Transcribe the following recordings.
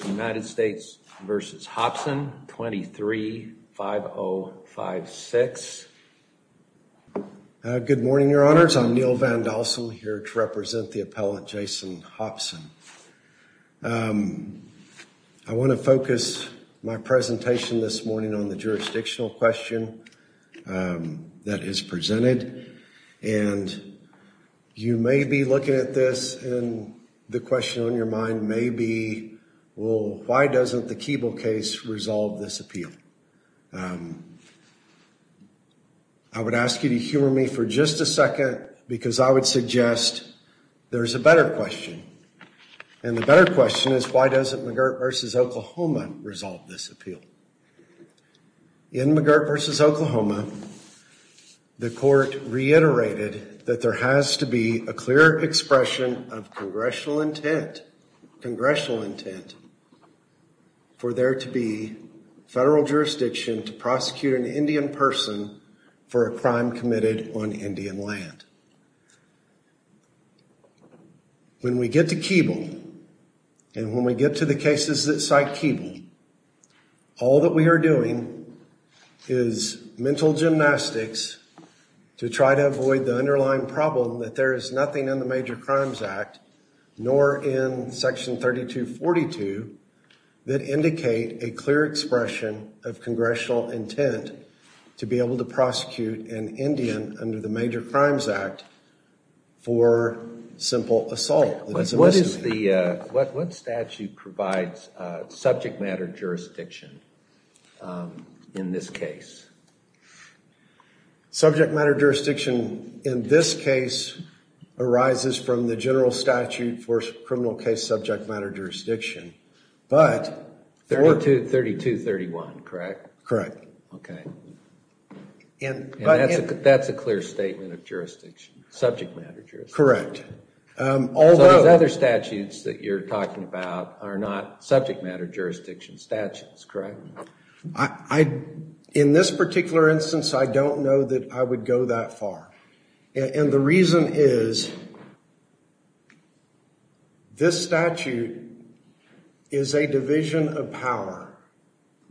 23-5056. Good morning, your honors. I'm Neal Van Dalsum, here to represent the appellant Jason Hopson. I want to focus my presentation this morning on the jurisdictional question that is why doesn't the Keeble case resolve this appeal? I would ask you to hear me for just a second because I would suggest there's a better question and the better question is why doesn't McGirt v. Oklahoma resolve this appeal? In McGirt v. Oklahoma, the court reiterated that there has to be a clear expression of congressional intent, congressional intent for there to be federal jurisdiction to prosecute an Indian person for a crime committed on Indian land. When we get to Keeble and when we get to the cases that cite Keeble, all that we are doing is mental gymnastics to try to avoid the underlying problem that there is nothing in the Major Crimes Act, nor in Section 3242, that indicate a clear expression of congressional intent to be able to prosecute an Indian under the Major Crimes Act for simple assault. What is the, what statute provides subject matter jurisdiction in this case? Subject matter jurisdiction in this case arises from the general statute for criminal case subject matter jurisdiction, but... 3231, correct? Correct. Okay. And that's a clear statement of jurisdiction, subject matter jurisdiction. Correct. Although... So those other statutes that you're talking about are not subject matter jurisdiction statutes, correct? I, in this particular instance, I don't know that I would go that far. And the reason is, this statute is a division of power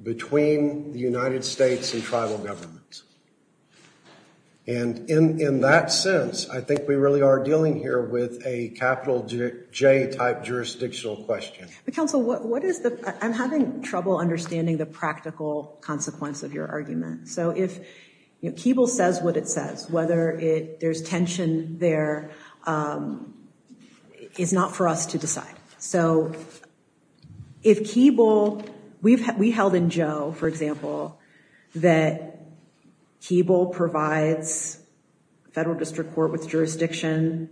between the United States and tribal governments. And in that sense, I think we really are dealing here with a capital J type jurisdictional question. But counsel, what is the, I'm having trouble understanding the practical consequence of your argument. So if, you know, Keeble says what it says, whether it, there's tension there, is not for us to decide. So if Keeble, we've, we held in Joe, for example, that Keeble provides federal district court with jurisdiction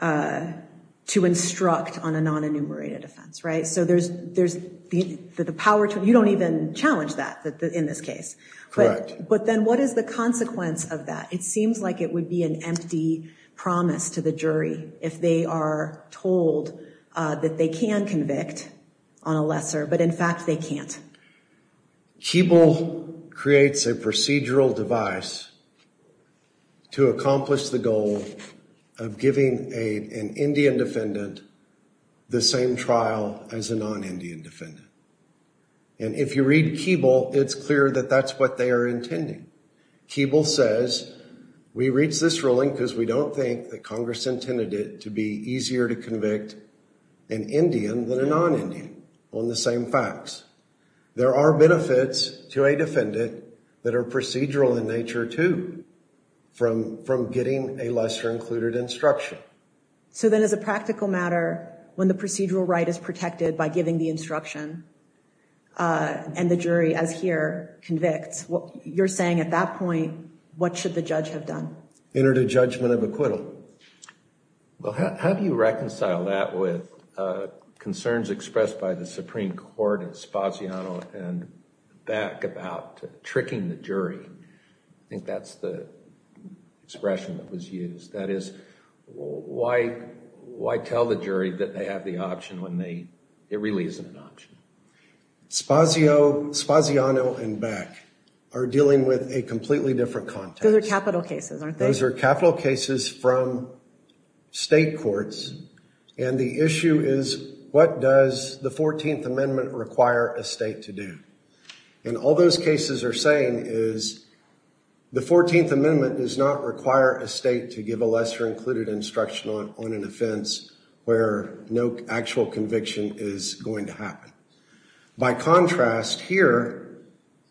to instruct on a non-enumerated offense, right? So there's, there's the power to, you don't even challenge that in this case. Correct. But then what is the consequence of that? It seems like it would be an empty promise to the jury if they are told that they can convict on a lesser, but in fact they can't. Keeble creates a procedural device to accomplish the goal of giving an Indian defendant the same trial as a non-Indian defendant. And if you read Keeble, it's clear that that's what they are intending. Keeble says, we reached this ruling because we don't think that Congress intended it to be easier to convict an Indian than a non-Indian on the same facts. There are benefits to a defendant that are procedural in nature too, from, from getting a lesser included instruction. So then as a practical matter, when the procedural right is protected by giving the instruction and the jury as here convicts, what you're saying at that point, what should the judge have done? Entered a judgment of acquittal. Well, how do you reconcile that with concerns expressed by the Supreme Court and Spaziano and Beck about tricking the jury? I think that's the expression that was used. That is why, why tell the jury that they have the option when they, it really isn't an option. Spazio, Spaziano and Beck are dealing with a completely different context. Those are capital cases, aren't they? Those are capital cases from state courts. And the issue is what does the 14th amendment require a state to do? And all those cases are saying is the 14th amendment does not require a state to give a lesser included instruction on, on an offense where no actual conviction is going to happen. By contrast here,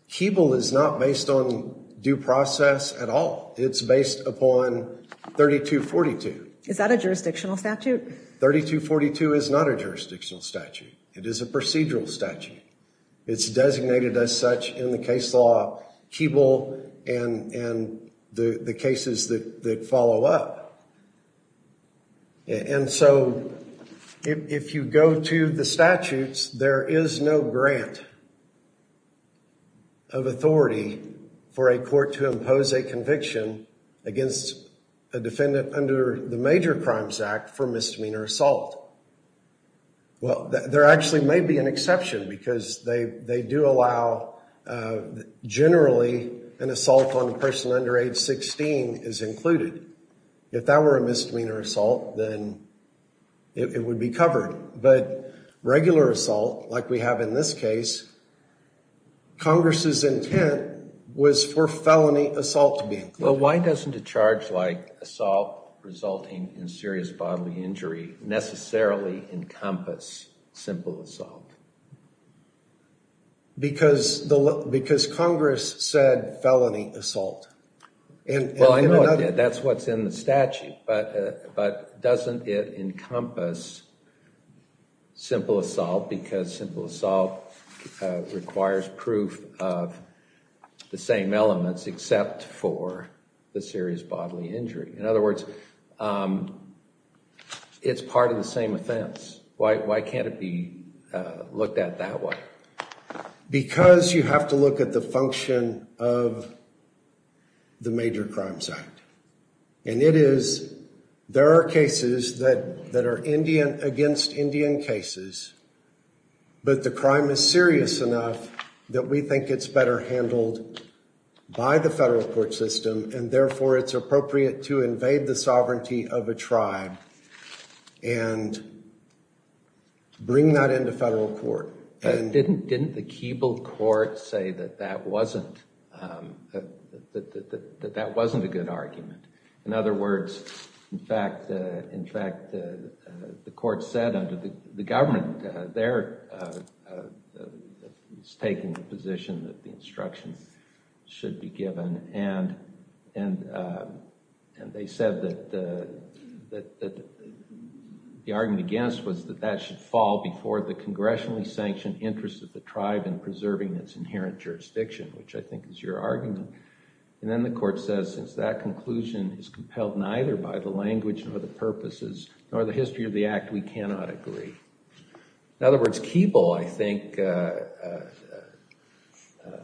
Keeble is not based on due process at all. It's based upon 3242. Is that a jurisdictional statute? 3242 is not a jurisdictional statute. It is a procedural statute. It's designated as such in the And so if you go to the statutes, there is no grant of authority for a court to impose a conviction against a defendant under the Major Crimes Act for misdemeanor assault. Well, there actually may be an exception because they, they do allow generally an assault on a person under age 16 is included. If that were a misdemeanor assault, then it would be covered. But regular assault, like we have in this case, Congress's intent was for felony assault to be included. Well, why doesn't a charge like assault resulting in serious bodily injury necessarily encompass simple assault? Because the, because Congress said felony assault. Well, I know that's what's in the statute, but, but doesn't it encompass simple assault because simple assault requires proof of the same elements except for the serious bodily injury. In other words, it's part of the same offense. Why, why can't it be looked at that way? Because you have to look at the function of the Major Crimes Act. And it is, there are cases that, that are Indian, against Indian cases, but the crime is serious enough that we think it's better handled by the federal court system. And therefore, it's appropriate to invade the sovereignty of a tribe and bring that into federal court. Didn't, didn't the Keeble court say that that wasn't, that that wasn't a good argument? In other words, in fact, in fact, the court said under the government, they're taking the position that the instructions should be given. And, and, and they said that, that the argument against was that that should fall before the congressionally sanctioned interest of the tribe in preserving its inherent jurisdiction, which I think is your argument. And then the court says, since that In other words, Keeble, I think,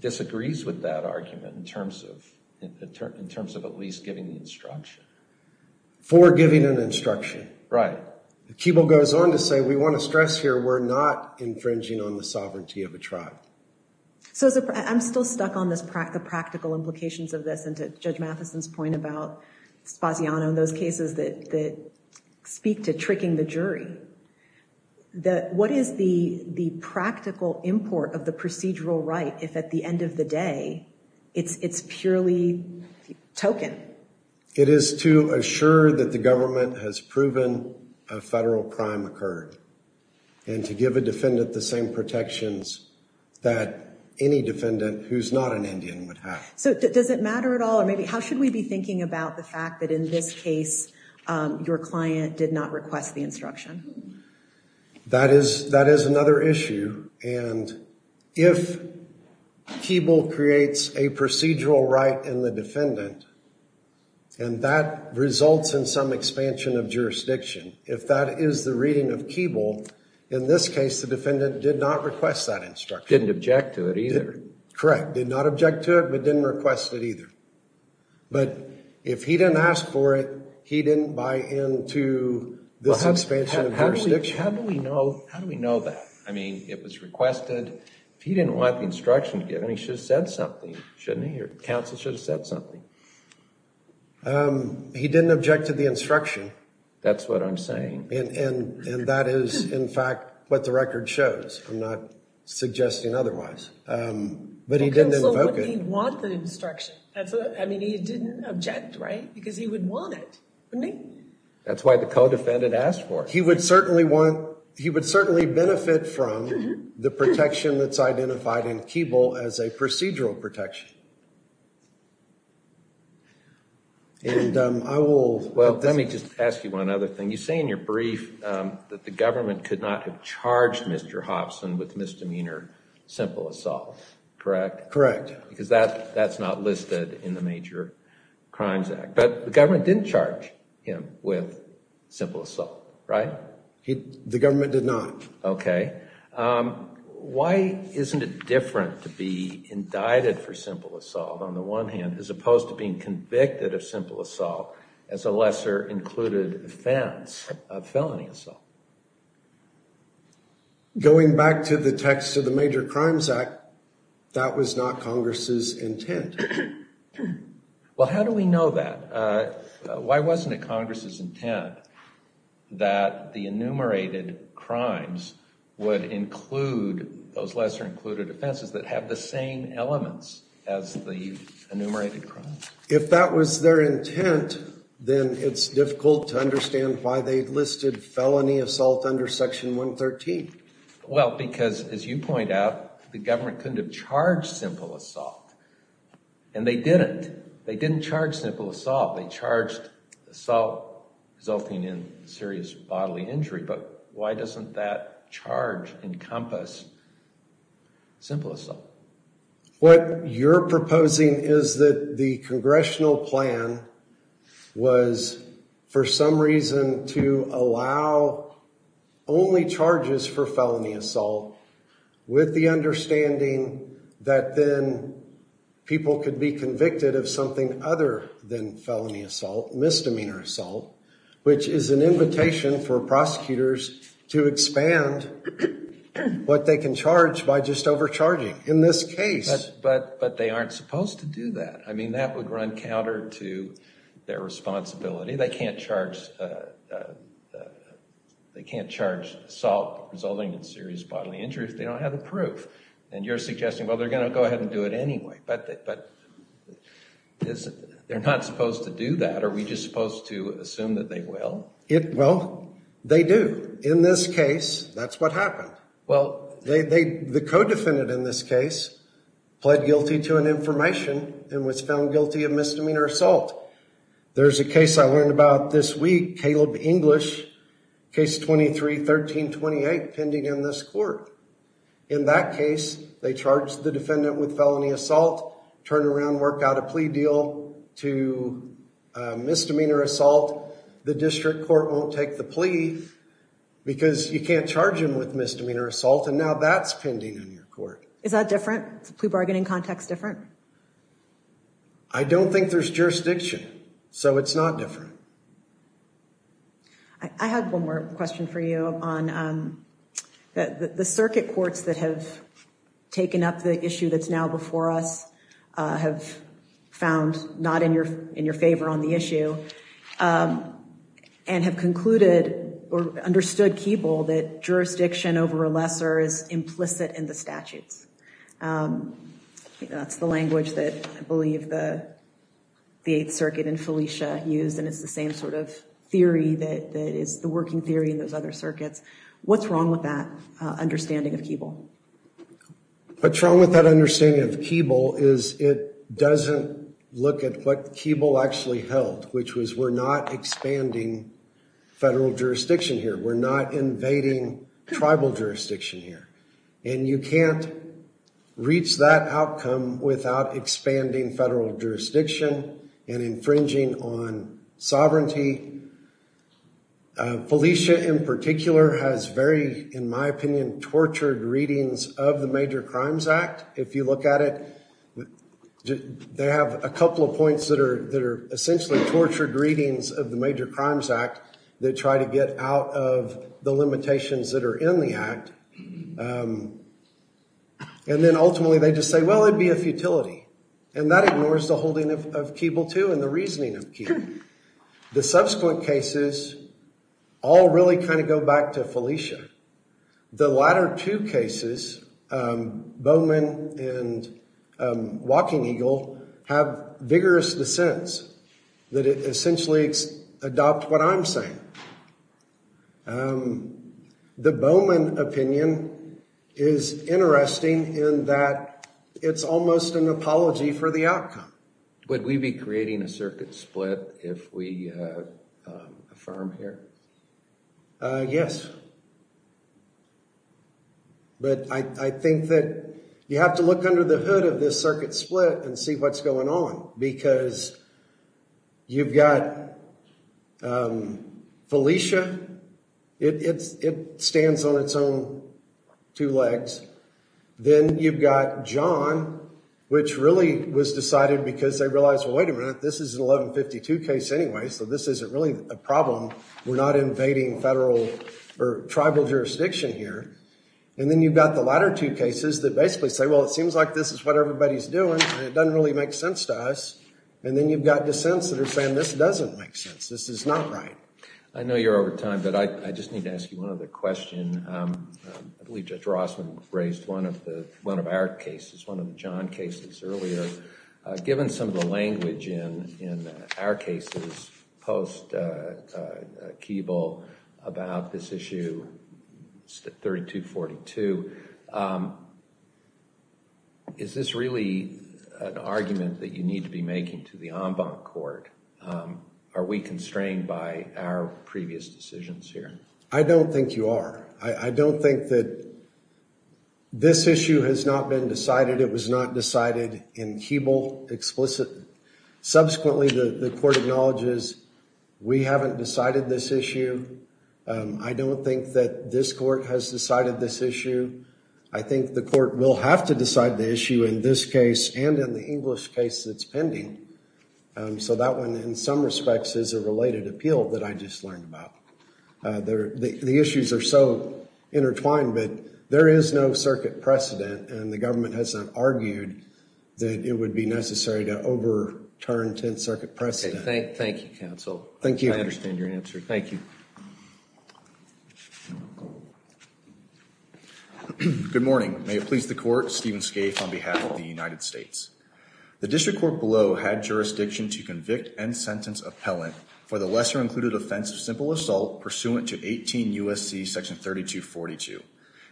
disagrees with that argument in terms of, in terms of at least giving the instruction. For giving an instruction. Right. Keeble goes on to say, we want to stress here, we're not infringing on the sovereignty of a tribe. So I'm still stuck on this practical, the practical implications of this and to Judge Mathison's point about Spaziano and those cases that, that speak to that, what is the, the practical import of the procedural right if at the end of the day, it's, it's purely token? It is to assure that the government has proven a federal crime occurred. And to give a defendant the same protections that any defendant who's not an Indian would have. So does it matter at all? Or maybe how should we be thinking about the fact that in this case, your client did not request the instruction? That is, that is another issue. And if Keeble creates a procedural right in the defendant, and that results in some expansion of jurisdiction, if that is the reading of Keeble, in this case, the defendant did not request that instruction. Didn't object to it either. Correct. Did not object to it, but didn't request it either. But if he didn't ask for it, he didn't buy into the suspension of jurisdiction. How do we know, how do we know that? I mean, it was requested. If he didn't want the instruction given, he should have said something, shouldn't he? Or counsel should have said something. He didn't object to the instruction. That's what I'm saying. And that is, in fact, what the record shows. I'm not suggesting otherwise. But he didn't invoke it. But he didn't want the instruction. I mean, he didn't object, right? Because he would want it, wouldn't he? That's why the co-defendant asked for it. He would certainly want, he would certainly benefit from the protection that's identified in Keeble as a procedural protection. And I will... Well, let me just ask you one other thing. You say in your brief that the government could not have charged Mr. Hobson with misdemeanor simple assault, correct? Correct. Because that's not listed in the Major Crimes Act. But the government didn't charge him with simple assault, right? The government did not. Okay. Why isn't it different to be indicted for simple assault, on the one hand, as opposed to being convicted of simple assault as a lesser included offense of felony assault? Well, going back to the text of the Major Crimes Act, that was not Congress's intent. Well, how do we know that? Why wasn't it Congress's intent that the enumerated crimes would include those lesser included offenses that have the same elements as the enumerated crimes? If that was their intent, then it's difficult to understand why they listed felony assault under Section 113. Well, because as you point out, the government couldn't have charged simple assault. And they didn't. They didn't charge simple assault. They charged assault resulting in serious bodily injury. But why doesn't that charge encompass simple assault? What you're proposing is that the congressional plan was, for some reason, to allow only charges for felony assault with the understanding that then people could be convicted of something other than felony assault, misdemeanor assault, which is an invitation for prosecutors to expand what they can charge by just overcharging. In this case. But they aren't supposed to do that. I mean, that would run counter to their responsibility. They can't charge assault resulting in serious bodily injury if they don't have the proof. And you're suggesting, well, they're going to go ahead and do it anyway. But they're not supposed to do that. Are we just supposed to assume that they will? Well, they do. In this case, that's what happened. Well, the co-defendant in this case pled guilty to an information and was found guilty of misdemeanor assault. There's a case I learned about this week, Caleb English, case 23-13-28, pending in this court. In that case, they charge the defendant with felony assault, turn around, work out a plea deal to misdemeanor assault. The district court won't take the plea because you can't charge him with misdemeanor assault. And now that's pending in your court. Is that different? Is the plea bargaining context different? I don't think there's jurisdiction. So it's not different. I had one more question for you on the circuit courts that have taken up the issue that's now before us, have found not in your in your favor on the issue and have concluded or understood Keeble that jurisdiction over a lesser is implicit in the statutes. That's the language that I believe the the Eighth Circuit and Felicia used, and it's the same sort of theory that is the working theory in those other circuits. What's wrong with that understanding of Keeble? What's wrong with that understanding of Keeble is it doesn't look at what Keeble actually held, which was we're not expanding federal jurisdiction here. We're not invading tribal jurisdiction here. And you can't reach that outcome without expanding federal jurisdiction and infringing on sovereignty. Felicia, in particular, has very, in my opinion, tortured readings of the Major Crimes Act. If you look at it, they have a couple of points that are essentially tortured readings of the Major Crimes Act that try to get out of the limitations that are in the act. And then ultimately they just say, well, it'd be a futility. And that ignores the holding of Keeble II and the reasoning of Keeble. The subsequent cases all really kind of go back to Felicia. The latter two cases, Bowman and Walking Eagle, have vigorous dissents that essentially adopt what I'm saying. The Bowman opinion is interesting in that it's almost an apology for the outcome. Would we be creating a circuit split if we affirm here? Yes. But I think that you have to look under the hood of this circuit split and see what's going on. Because you've got Felicia. It stands on its own two legs. Then you've got John, which really was decided because they realized, well, wait a minute, this is an 1152 case anyway, so this isn't really a problem. We're not invading federal or tribal jurisdiction here. And then you've got the latter two cases that basically say, well, it seems like this is what everybody's doing and it doesn't really make sense to us. And then you've got dissents that are saying this doesn't make sense. This is not right. I know you're over time, but I just need to ask you one other question. I believe Judge Rossman raised one of our cases, one of John's cases earlier. Given some of the language in our cases post-Keeble about this issue, 3242, is this really an argument that you need to be making to the en banc court? Are we constrained by our previous decisions here? I don't think you are. I don't think that this issue has not been decided. It was not decided in Keeble explicitly. Subsequently, the court acknowledges we haven't decided this issue. I don't think that this court has decided this issue. I think the court will have to decide the issue in this case and in the English case that's pending. So that one, in some respects, is a related appeal that I just learned about. The issues are so intertwined, but there is no circuit precedent, and the government has not argued that it would be necessary to overturn 10th Circuit precedent. Thank you, counsel. I understand your answer. Thank you. Good morning. May it please the court, Stephen Scaife on behalf of the United States. The district court below had jurisdiction to convict and sentence appellant for the lesser included offense of simple assault pursuant to 18 U.S.C. section 3242.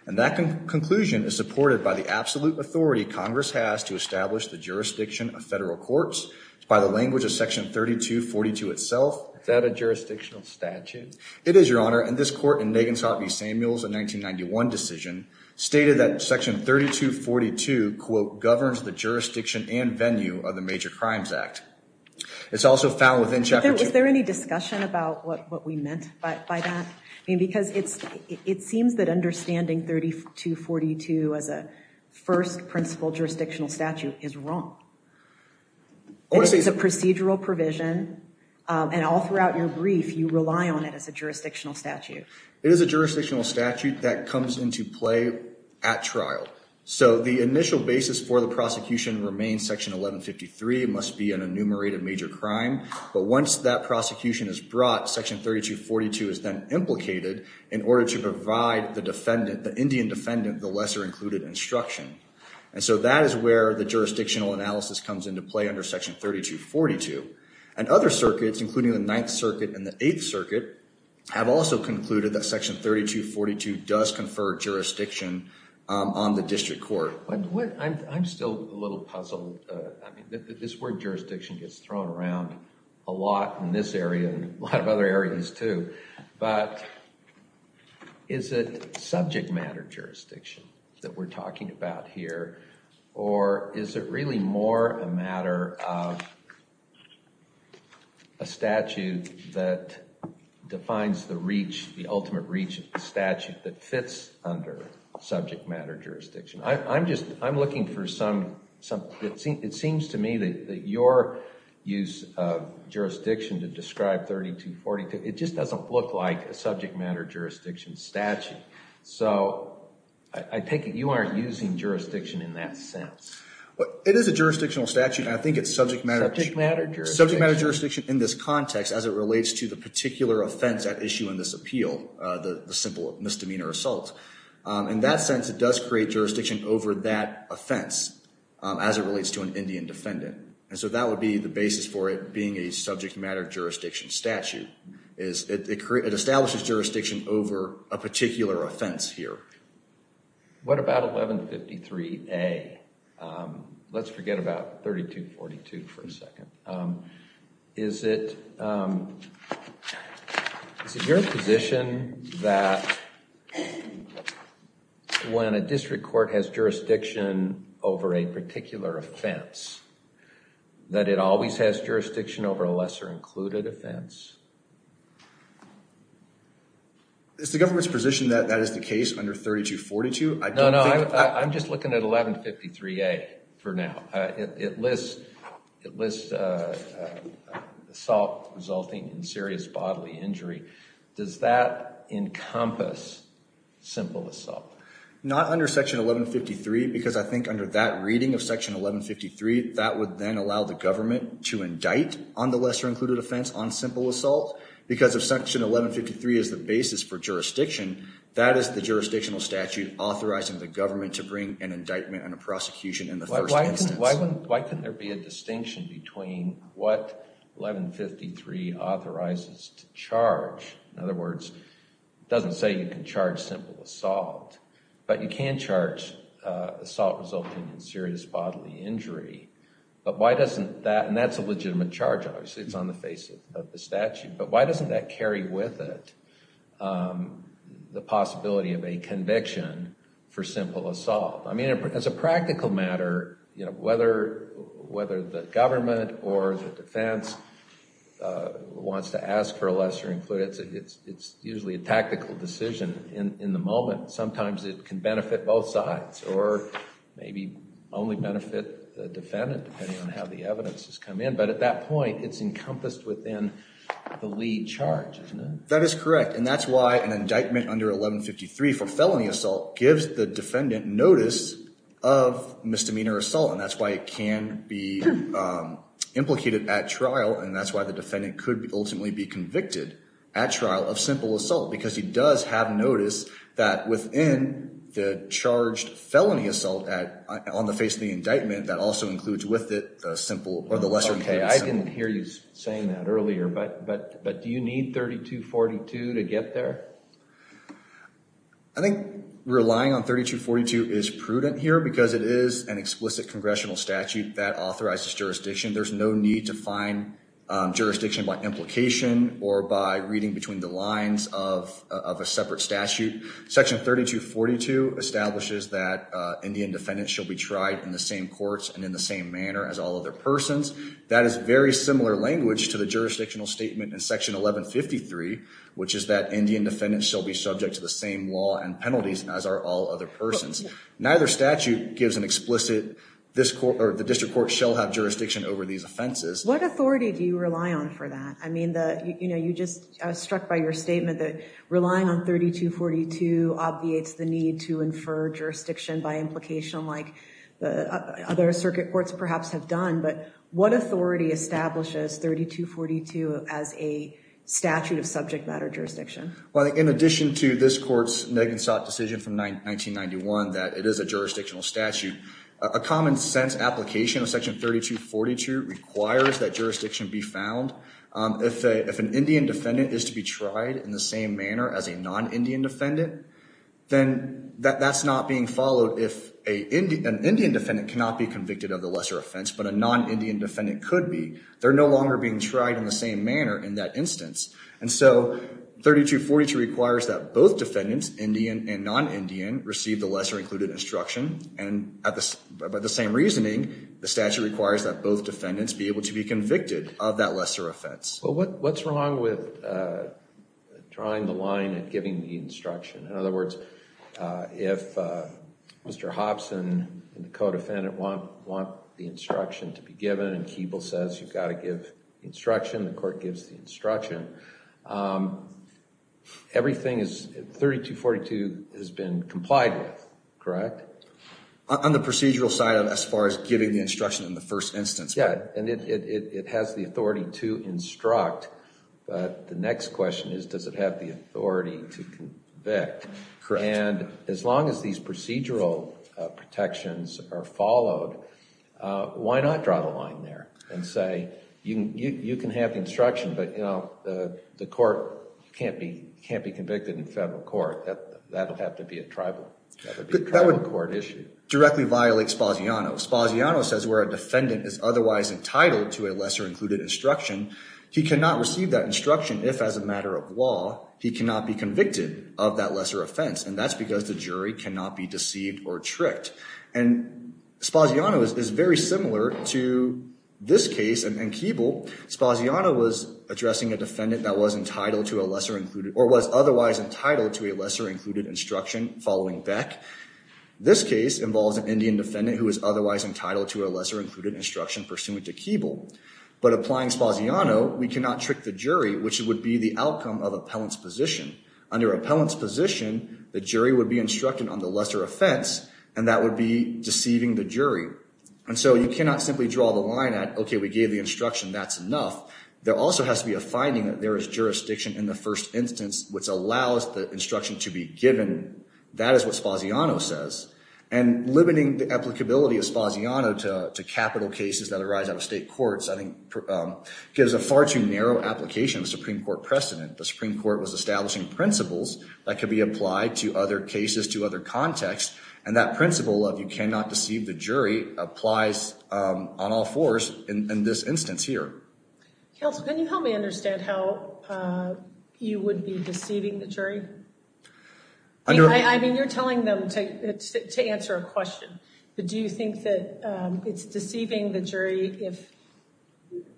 And that conclusion is supported by the absolute authority Congress has to establish the jurisdiction of federal courts by the language of section 3242 itself. Is that a jurisdictional statute? It is, Your Honor, and this court in Nagin-Sotney-Samuels, a 1991 decision, stated that section 3242, quote, governs the jurisdiction and venue of the Major Crimes Act. It's also found within Chapter 2. Is there any discussion about what we meant by that? I mean, because it seems that understanding 3242 as a first principle jurisdictional statute is wrong. It is a procedural provision, and all throughout your brief, you rely on it as a jurisdictional statute. It is a jurisdictional statute that comes into play at trial. So the initial basis for the prosecution remains section 1153 must be an enumerated major crime. But once that prosecution is brought, section 3242 is then implicated in order to provide the defendant, the Indian defendant, the lesser included instruction. And so that is where the jurisdictional analysis comes into play under section 3242. And other circuits, including the Ninth Circuit and the Eighth Circuit, have also concluded that section 3242 does confer jurisdiction on the district court. I'm still a little puzzled. I mean, this word jurisdiction gets thrown around a lot in this area and a lot of other areas, too. But is it subject matter jurisdiction that we're talking about here? Or is it really more a matter of a statute that defines the reach, the ultimate reach of the statute that fits under subject matter jurisdiction? I'm just, I'm looking for some, it seems to me that your use of jurisdiction to describe 3242, it just doesn't look like a subject matter jurisdiction statute. So I take it you aren't using jurisdiction in that sense. It is a jurisdictional statute, and I think it's subject matter jurisdiction in this context as it relates to the particular offense at issue in this appeal, the simple misdemeanor assault. In that sense, it does create jurisdiction over that offense as it relates to an Indian defendant. And so that would be the basis for it being a subject matter jurisdiction statute. It establishes jurisdiction over a particular offense here. What about 1153A? Let's forget about 3242 for a second. Is it your position that when a district court has jurisdiction over a particular offense, that it always has jurisdiction over a lesser included offense? Is the government's position that that is the case under 3242? No, no, I'm just looking at 1153A for now. It lists assault resulting in serious bodily injury. Does that encompass simple assault? Not under section 1153, because I think under that reading of section 1153, that would then allow the government to indict on the lesser included offense on simple assault. Because if section 1153 is the basis for jurisdiction, that is the jurisdictional statute authorizing the government to bring an indictment and a prosecution in the first instance. Why couldn't there be a distinction between what 1153 authorizes to charge? In other words, it doesn't say you can charge simple assault, but you can charge assault resulting in serious bodily injury. But why doesn't that, and that's a legitimate charge obviously, it's on the face of the statute. But why doesn't that carry with it the possibility of a conviction for simple assault? I mean, as a practical matter, whether the government or the defense wants to ask for a lesser included, it's usually a tactical decision in the moment. Sometimes it can benefit both sides, or maybe only benefit the defendant, depending on how the evidence has come in. But at that point, it's encompassed within the lead charge, isn't it? That is correct, and that's why an indictment under 1153 for felony assault gives the defendant notice of misdemeanor assault. And that's why it can be implicated at trial, and that's why the defendant could ultimately be convicted at trial of simple assault. Because he does have notice that within the charged felony assault on the face of the indictment, that also includes with it the simple or the lesser included. Okay, I didn't hear you saying that earlier, but do you need 3242 to get there? I think relying on 3242 is prudent here because it is an explicit congressional statute that authorizes jurisdiction. There's no need to find jurisdiction by implication or by reading between the lines of a separate statute. Section 3242 establishes that Indian defendants shall be tried in the same courts and in the same manner as all other persons. That is very similar language to the jurisdictional statement in section 1153, which is that Indian defendants shall be subject to the same law and penalties as are all other persons. Neither statute gives an explicit, the district court shall have jurisdiction over these offenses. What authority do you rely on for that? I mean, you just struck by your statement that relying on 3242 obviates the need to infer jurisdiction by implication like other circuit courts perhaps have done. But what authority establishes 3242 as a statute of subject matter jurisdiction? Well, in addition to this court's Nagin-Sot decision from 1991 that it is a jurisdictional statute, a common sense application of section 3242 requires that jurisdiction be found. If an Indian defendant is to be tried in the same manner as a non-Indian defendant, then that's not being followed if an Indian defendant cannot be convicted of the lesser offense, but a non-Indian defendant could be. They're no longer being tried in the same manner in that instance. And so 3242 requires that both defendants, Indian and non-Indian, receive the lesser included instruction. And by the same reasoning, the statute requires that both defendants be able to be convicted of that lesser offense. Well, what's wrong with drawing the line and giving the instruction? In other words, if Mr. Hobson and the co-defendant want the instruction to be given and Keeble says you've got to give instruction, the court gives the instruction, everything is 3242 has been complied with, correct? On the procedural side of as far as giving the instruction in the first instance. Yeah, and it has the authority to instruct, but the next question is does it have the authority to convict? Correct. And as long as these procedural protections are followed, why not draw the line there and say you can have the instruction, but, you know, the court can't be convicted in federal court. That would have to be a tribal court issue. That would directly violate Spaziano. Spaziano says where a defendant is otherwise entitled to a lesser included instruction, he cannot receive that instruction if as a matter of law he cannot be convicted of that lesser offense, and that's because the jury cannot be deceived or tricked. And Spaziano is very similar to this case and Keeble. Spaziano was addressing a defendant that was entitled to a lesser included or was otherwise entitled to a lesser included instruction following Beck. This case involves an Indian defendant who was otherwise entitled to a lesser included instruction pursuant to Keeble. But applying Spaziano, we cannot trick the jury, which would be the outcome of appellant's position. Under appellant's position, the jury would be instructed on the lesser offense, and that would be deceiving the jury. And so you cannot simply draw the line at, okay, we gave the instruction, that's enough. There also has to be a finding that there is jurisdiction in the first instance which allows the instruction to be given. That is what Spaziano says. And limiting the applicability of Spaziano to capital cases that arise out of state courts, I think, gives a far too narrow application of the Supreme Court precedent. The Supreme Court was establishing principles that could be applied to other cases, to other contexts, and that principle of you cannot deceive the jury applies on all fours in this instance here. Counsel, can you help me understand how you would be deceiving the jury? I mean, you're telling them to answer a question. But do you think that it's deceiving the jury if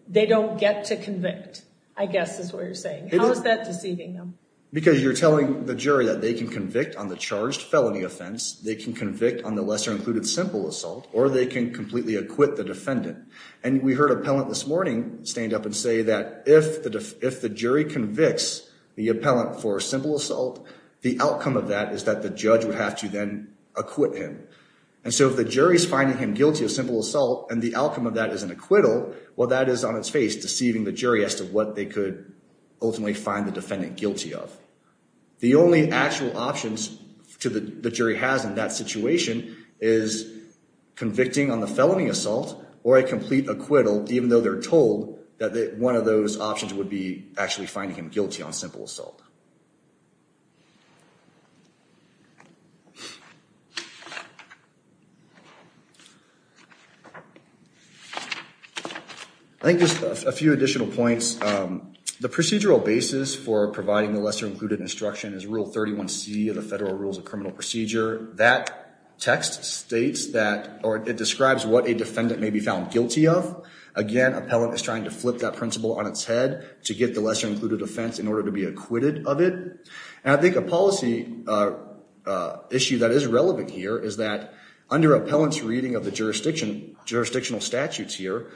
they don't get to convict, I guess is what you're saying. How is that deceiving them? Because you're telling the jury that they can convict on the charged felony offense, they can convict on the lesser included simple assault, or they can completely acquit the defendant. And we heard appellant this morning stand up and say that if the jury convicts the appellant for simple assault, the outcome of that is that the judge would have to then acquit him. And so if the jury is finding him guilty of simple assault and the outcome of that is an acquittal, well, that is on its face deceiving the jury as to what they could ultimately find the defendant guilty of. The only actual options the jury has in that situation is convicting on the felony assault or a complete acquittal, even though they're told that one of those options would be actually finding him guilty on simple assault. I think just a few additional points. The procedural basis for providing the lesser included instruction is Rule 31C of the Federal Rules of Criminal Procedure. That text states that, or it describes what a defendant may be found guilty of. Again, appellant is trying to flip that principle on its head to get the lesser included offense in order to be acquitted of it. And I think a policy issue that is relevant here is that under appellant's reading of the jurisdictional statutes here,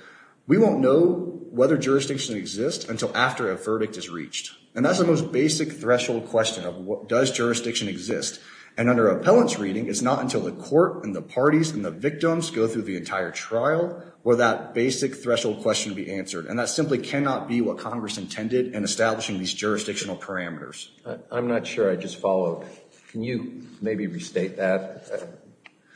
we won't know whether jurisdiction exists until after a verdict is reached. And that's the most basic threshold question of does jurisdiction exist. And under appellant's reading, it's not until the court and the parties and the victims go through the entire trial will that basic threshold question be answered. And that simply cannot be what Congress intended in establishing these jurisdictional parameters. I'm not sure. I just followed. Can you maybe restate that?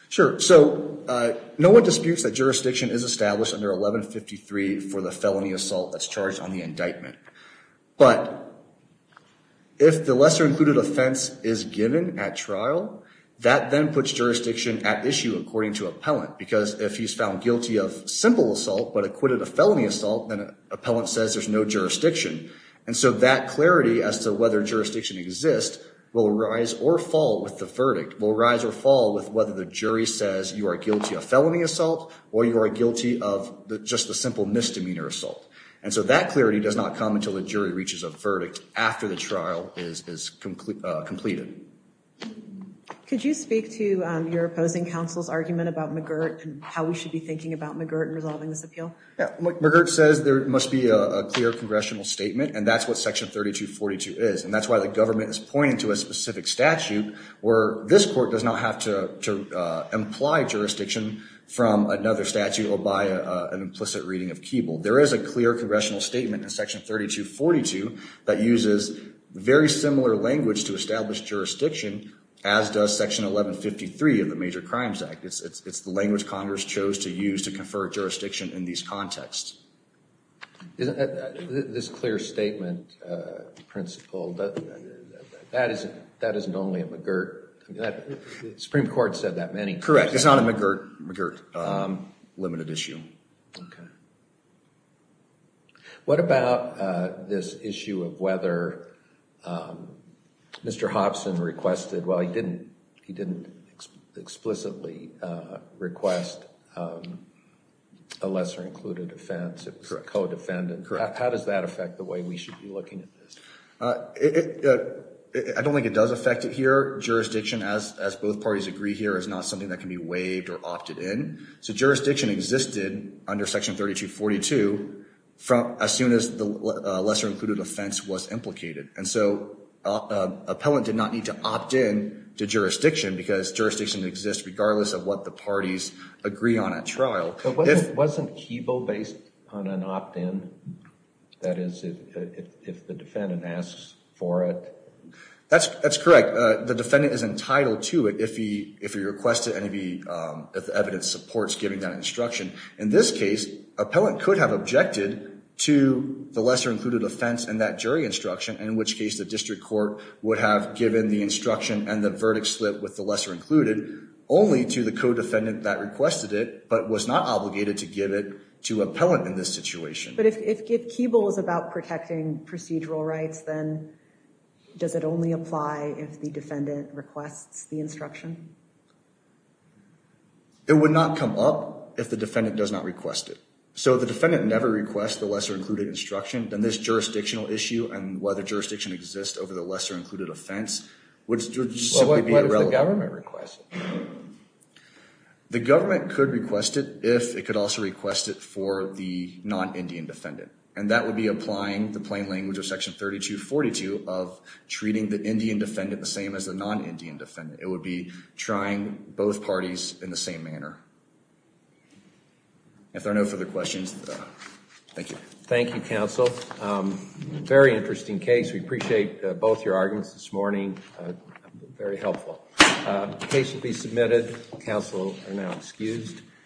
Sure. So no one disputes that jurisdiction is established under 1153 for the felony assault that's charged on the indictment. But if the lesser included offense is given at trial, that then puts jurisdiction at issue according to appellant. Because if he's found guilty of simple assault but acquitted of felony assault, then appellant says there's no jurisdiction. And so that clarity as to whether jurisdiction exists will rise or fall with the verdict, will rise or fall with whether the jury says you are guilty of felony assault or you are guilty of just the simple misdemeanor assault. And so that clarity does not come until the jury reaches a verdict after the trial is completed. Could you speak to your opposing counsel's argument about McGirt and how we should be thinking about McGirt in resolving this appeal? McGirt says there must be a clear congressional statement, and that's what Section 3242 is. And that's why the government is pointing to a specific statute where this court does not have to imply jurisdiction from another statute or by an implicit reading of Keeble. There is a clear congressional statement in Section 3242 that uses very similar language to establish jurisdiction, as does Section 1153 of the Major Crimes Act. It's the language Congress chose to use to confer jurisdiction in these contexts. This clear statement principle, that isn't only a McGirt. The Supreme Court said that many times. Correct. It's not a McGirt limited issue. Okay. What about this issue of whether Mr. Hobson requested, well, he didn't explicitly request a lesser-included offense, it was co-defendant. How does that affect the way we should be looking at this? I don't think it does affect it here. Jurisdiction, as both parties agree here, is not something that can be waived or opted in. So jurisdiction existed under Section 3242 as soon as the lesser-included offense was implicated. And so an appellant did not need to opt in to jurisdiction because jurisdiction exists regardless of what the parties agree on at trial. But wasn't Keeble based on an opt-in? That is, if the defendant asks for it. That's correct. The defendant is entitled to it if he requests it and if the evidence supports giving that instruction. In this case, appellant could have objected to the lesser-included offense and that jury instruction, in which case the district court would have given the instruction and the verdict slip with the lesser-included only to the co-defendant that requested it, but was not obligated to give it to appellant in this situation. But if Keeble is about protecting procedural rights, then does it only apply if the defendant requests the instruction? It would not come up if the defendant does not request it. So if the defendant never requests the lesser-included instruction, then this jurisdictional issue and whether jurisdiction exists over the lesser-included offense would simply be irrelevant. What if the government requests it? The government could request it if it could also request it for the non-Indian defendant, and that would be applying the plain language of Section 3242 of treating the Indian defendant the same as the non-Indian defendant. It would be trying both parties in the same manner. If there are no further questions, thank you. Thank you, counsel. Very interesting case. We appreciate both your arguments this morning. Very helpful. The case will be submitted. Counsel are now excused.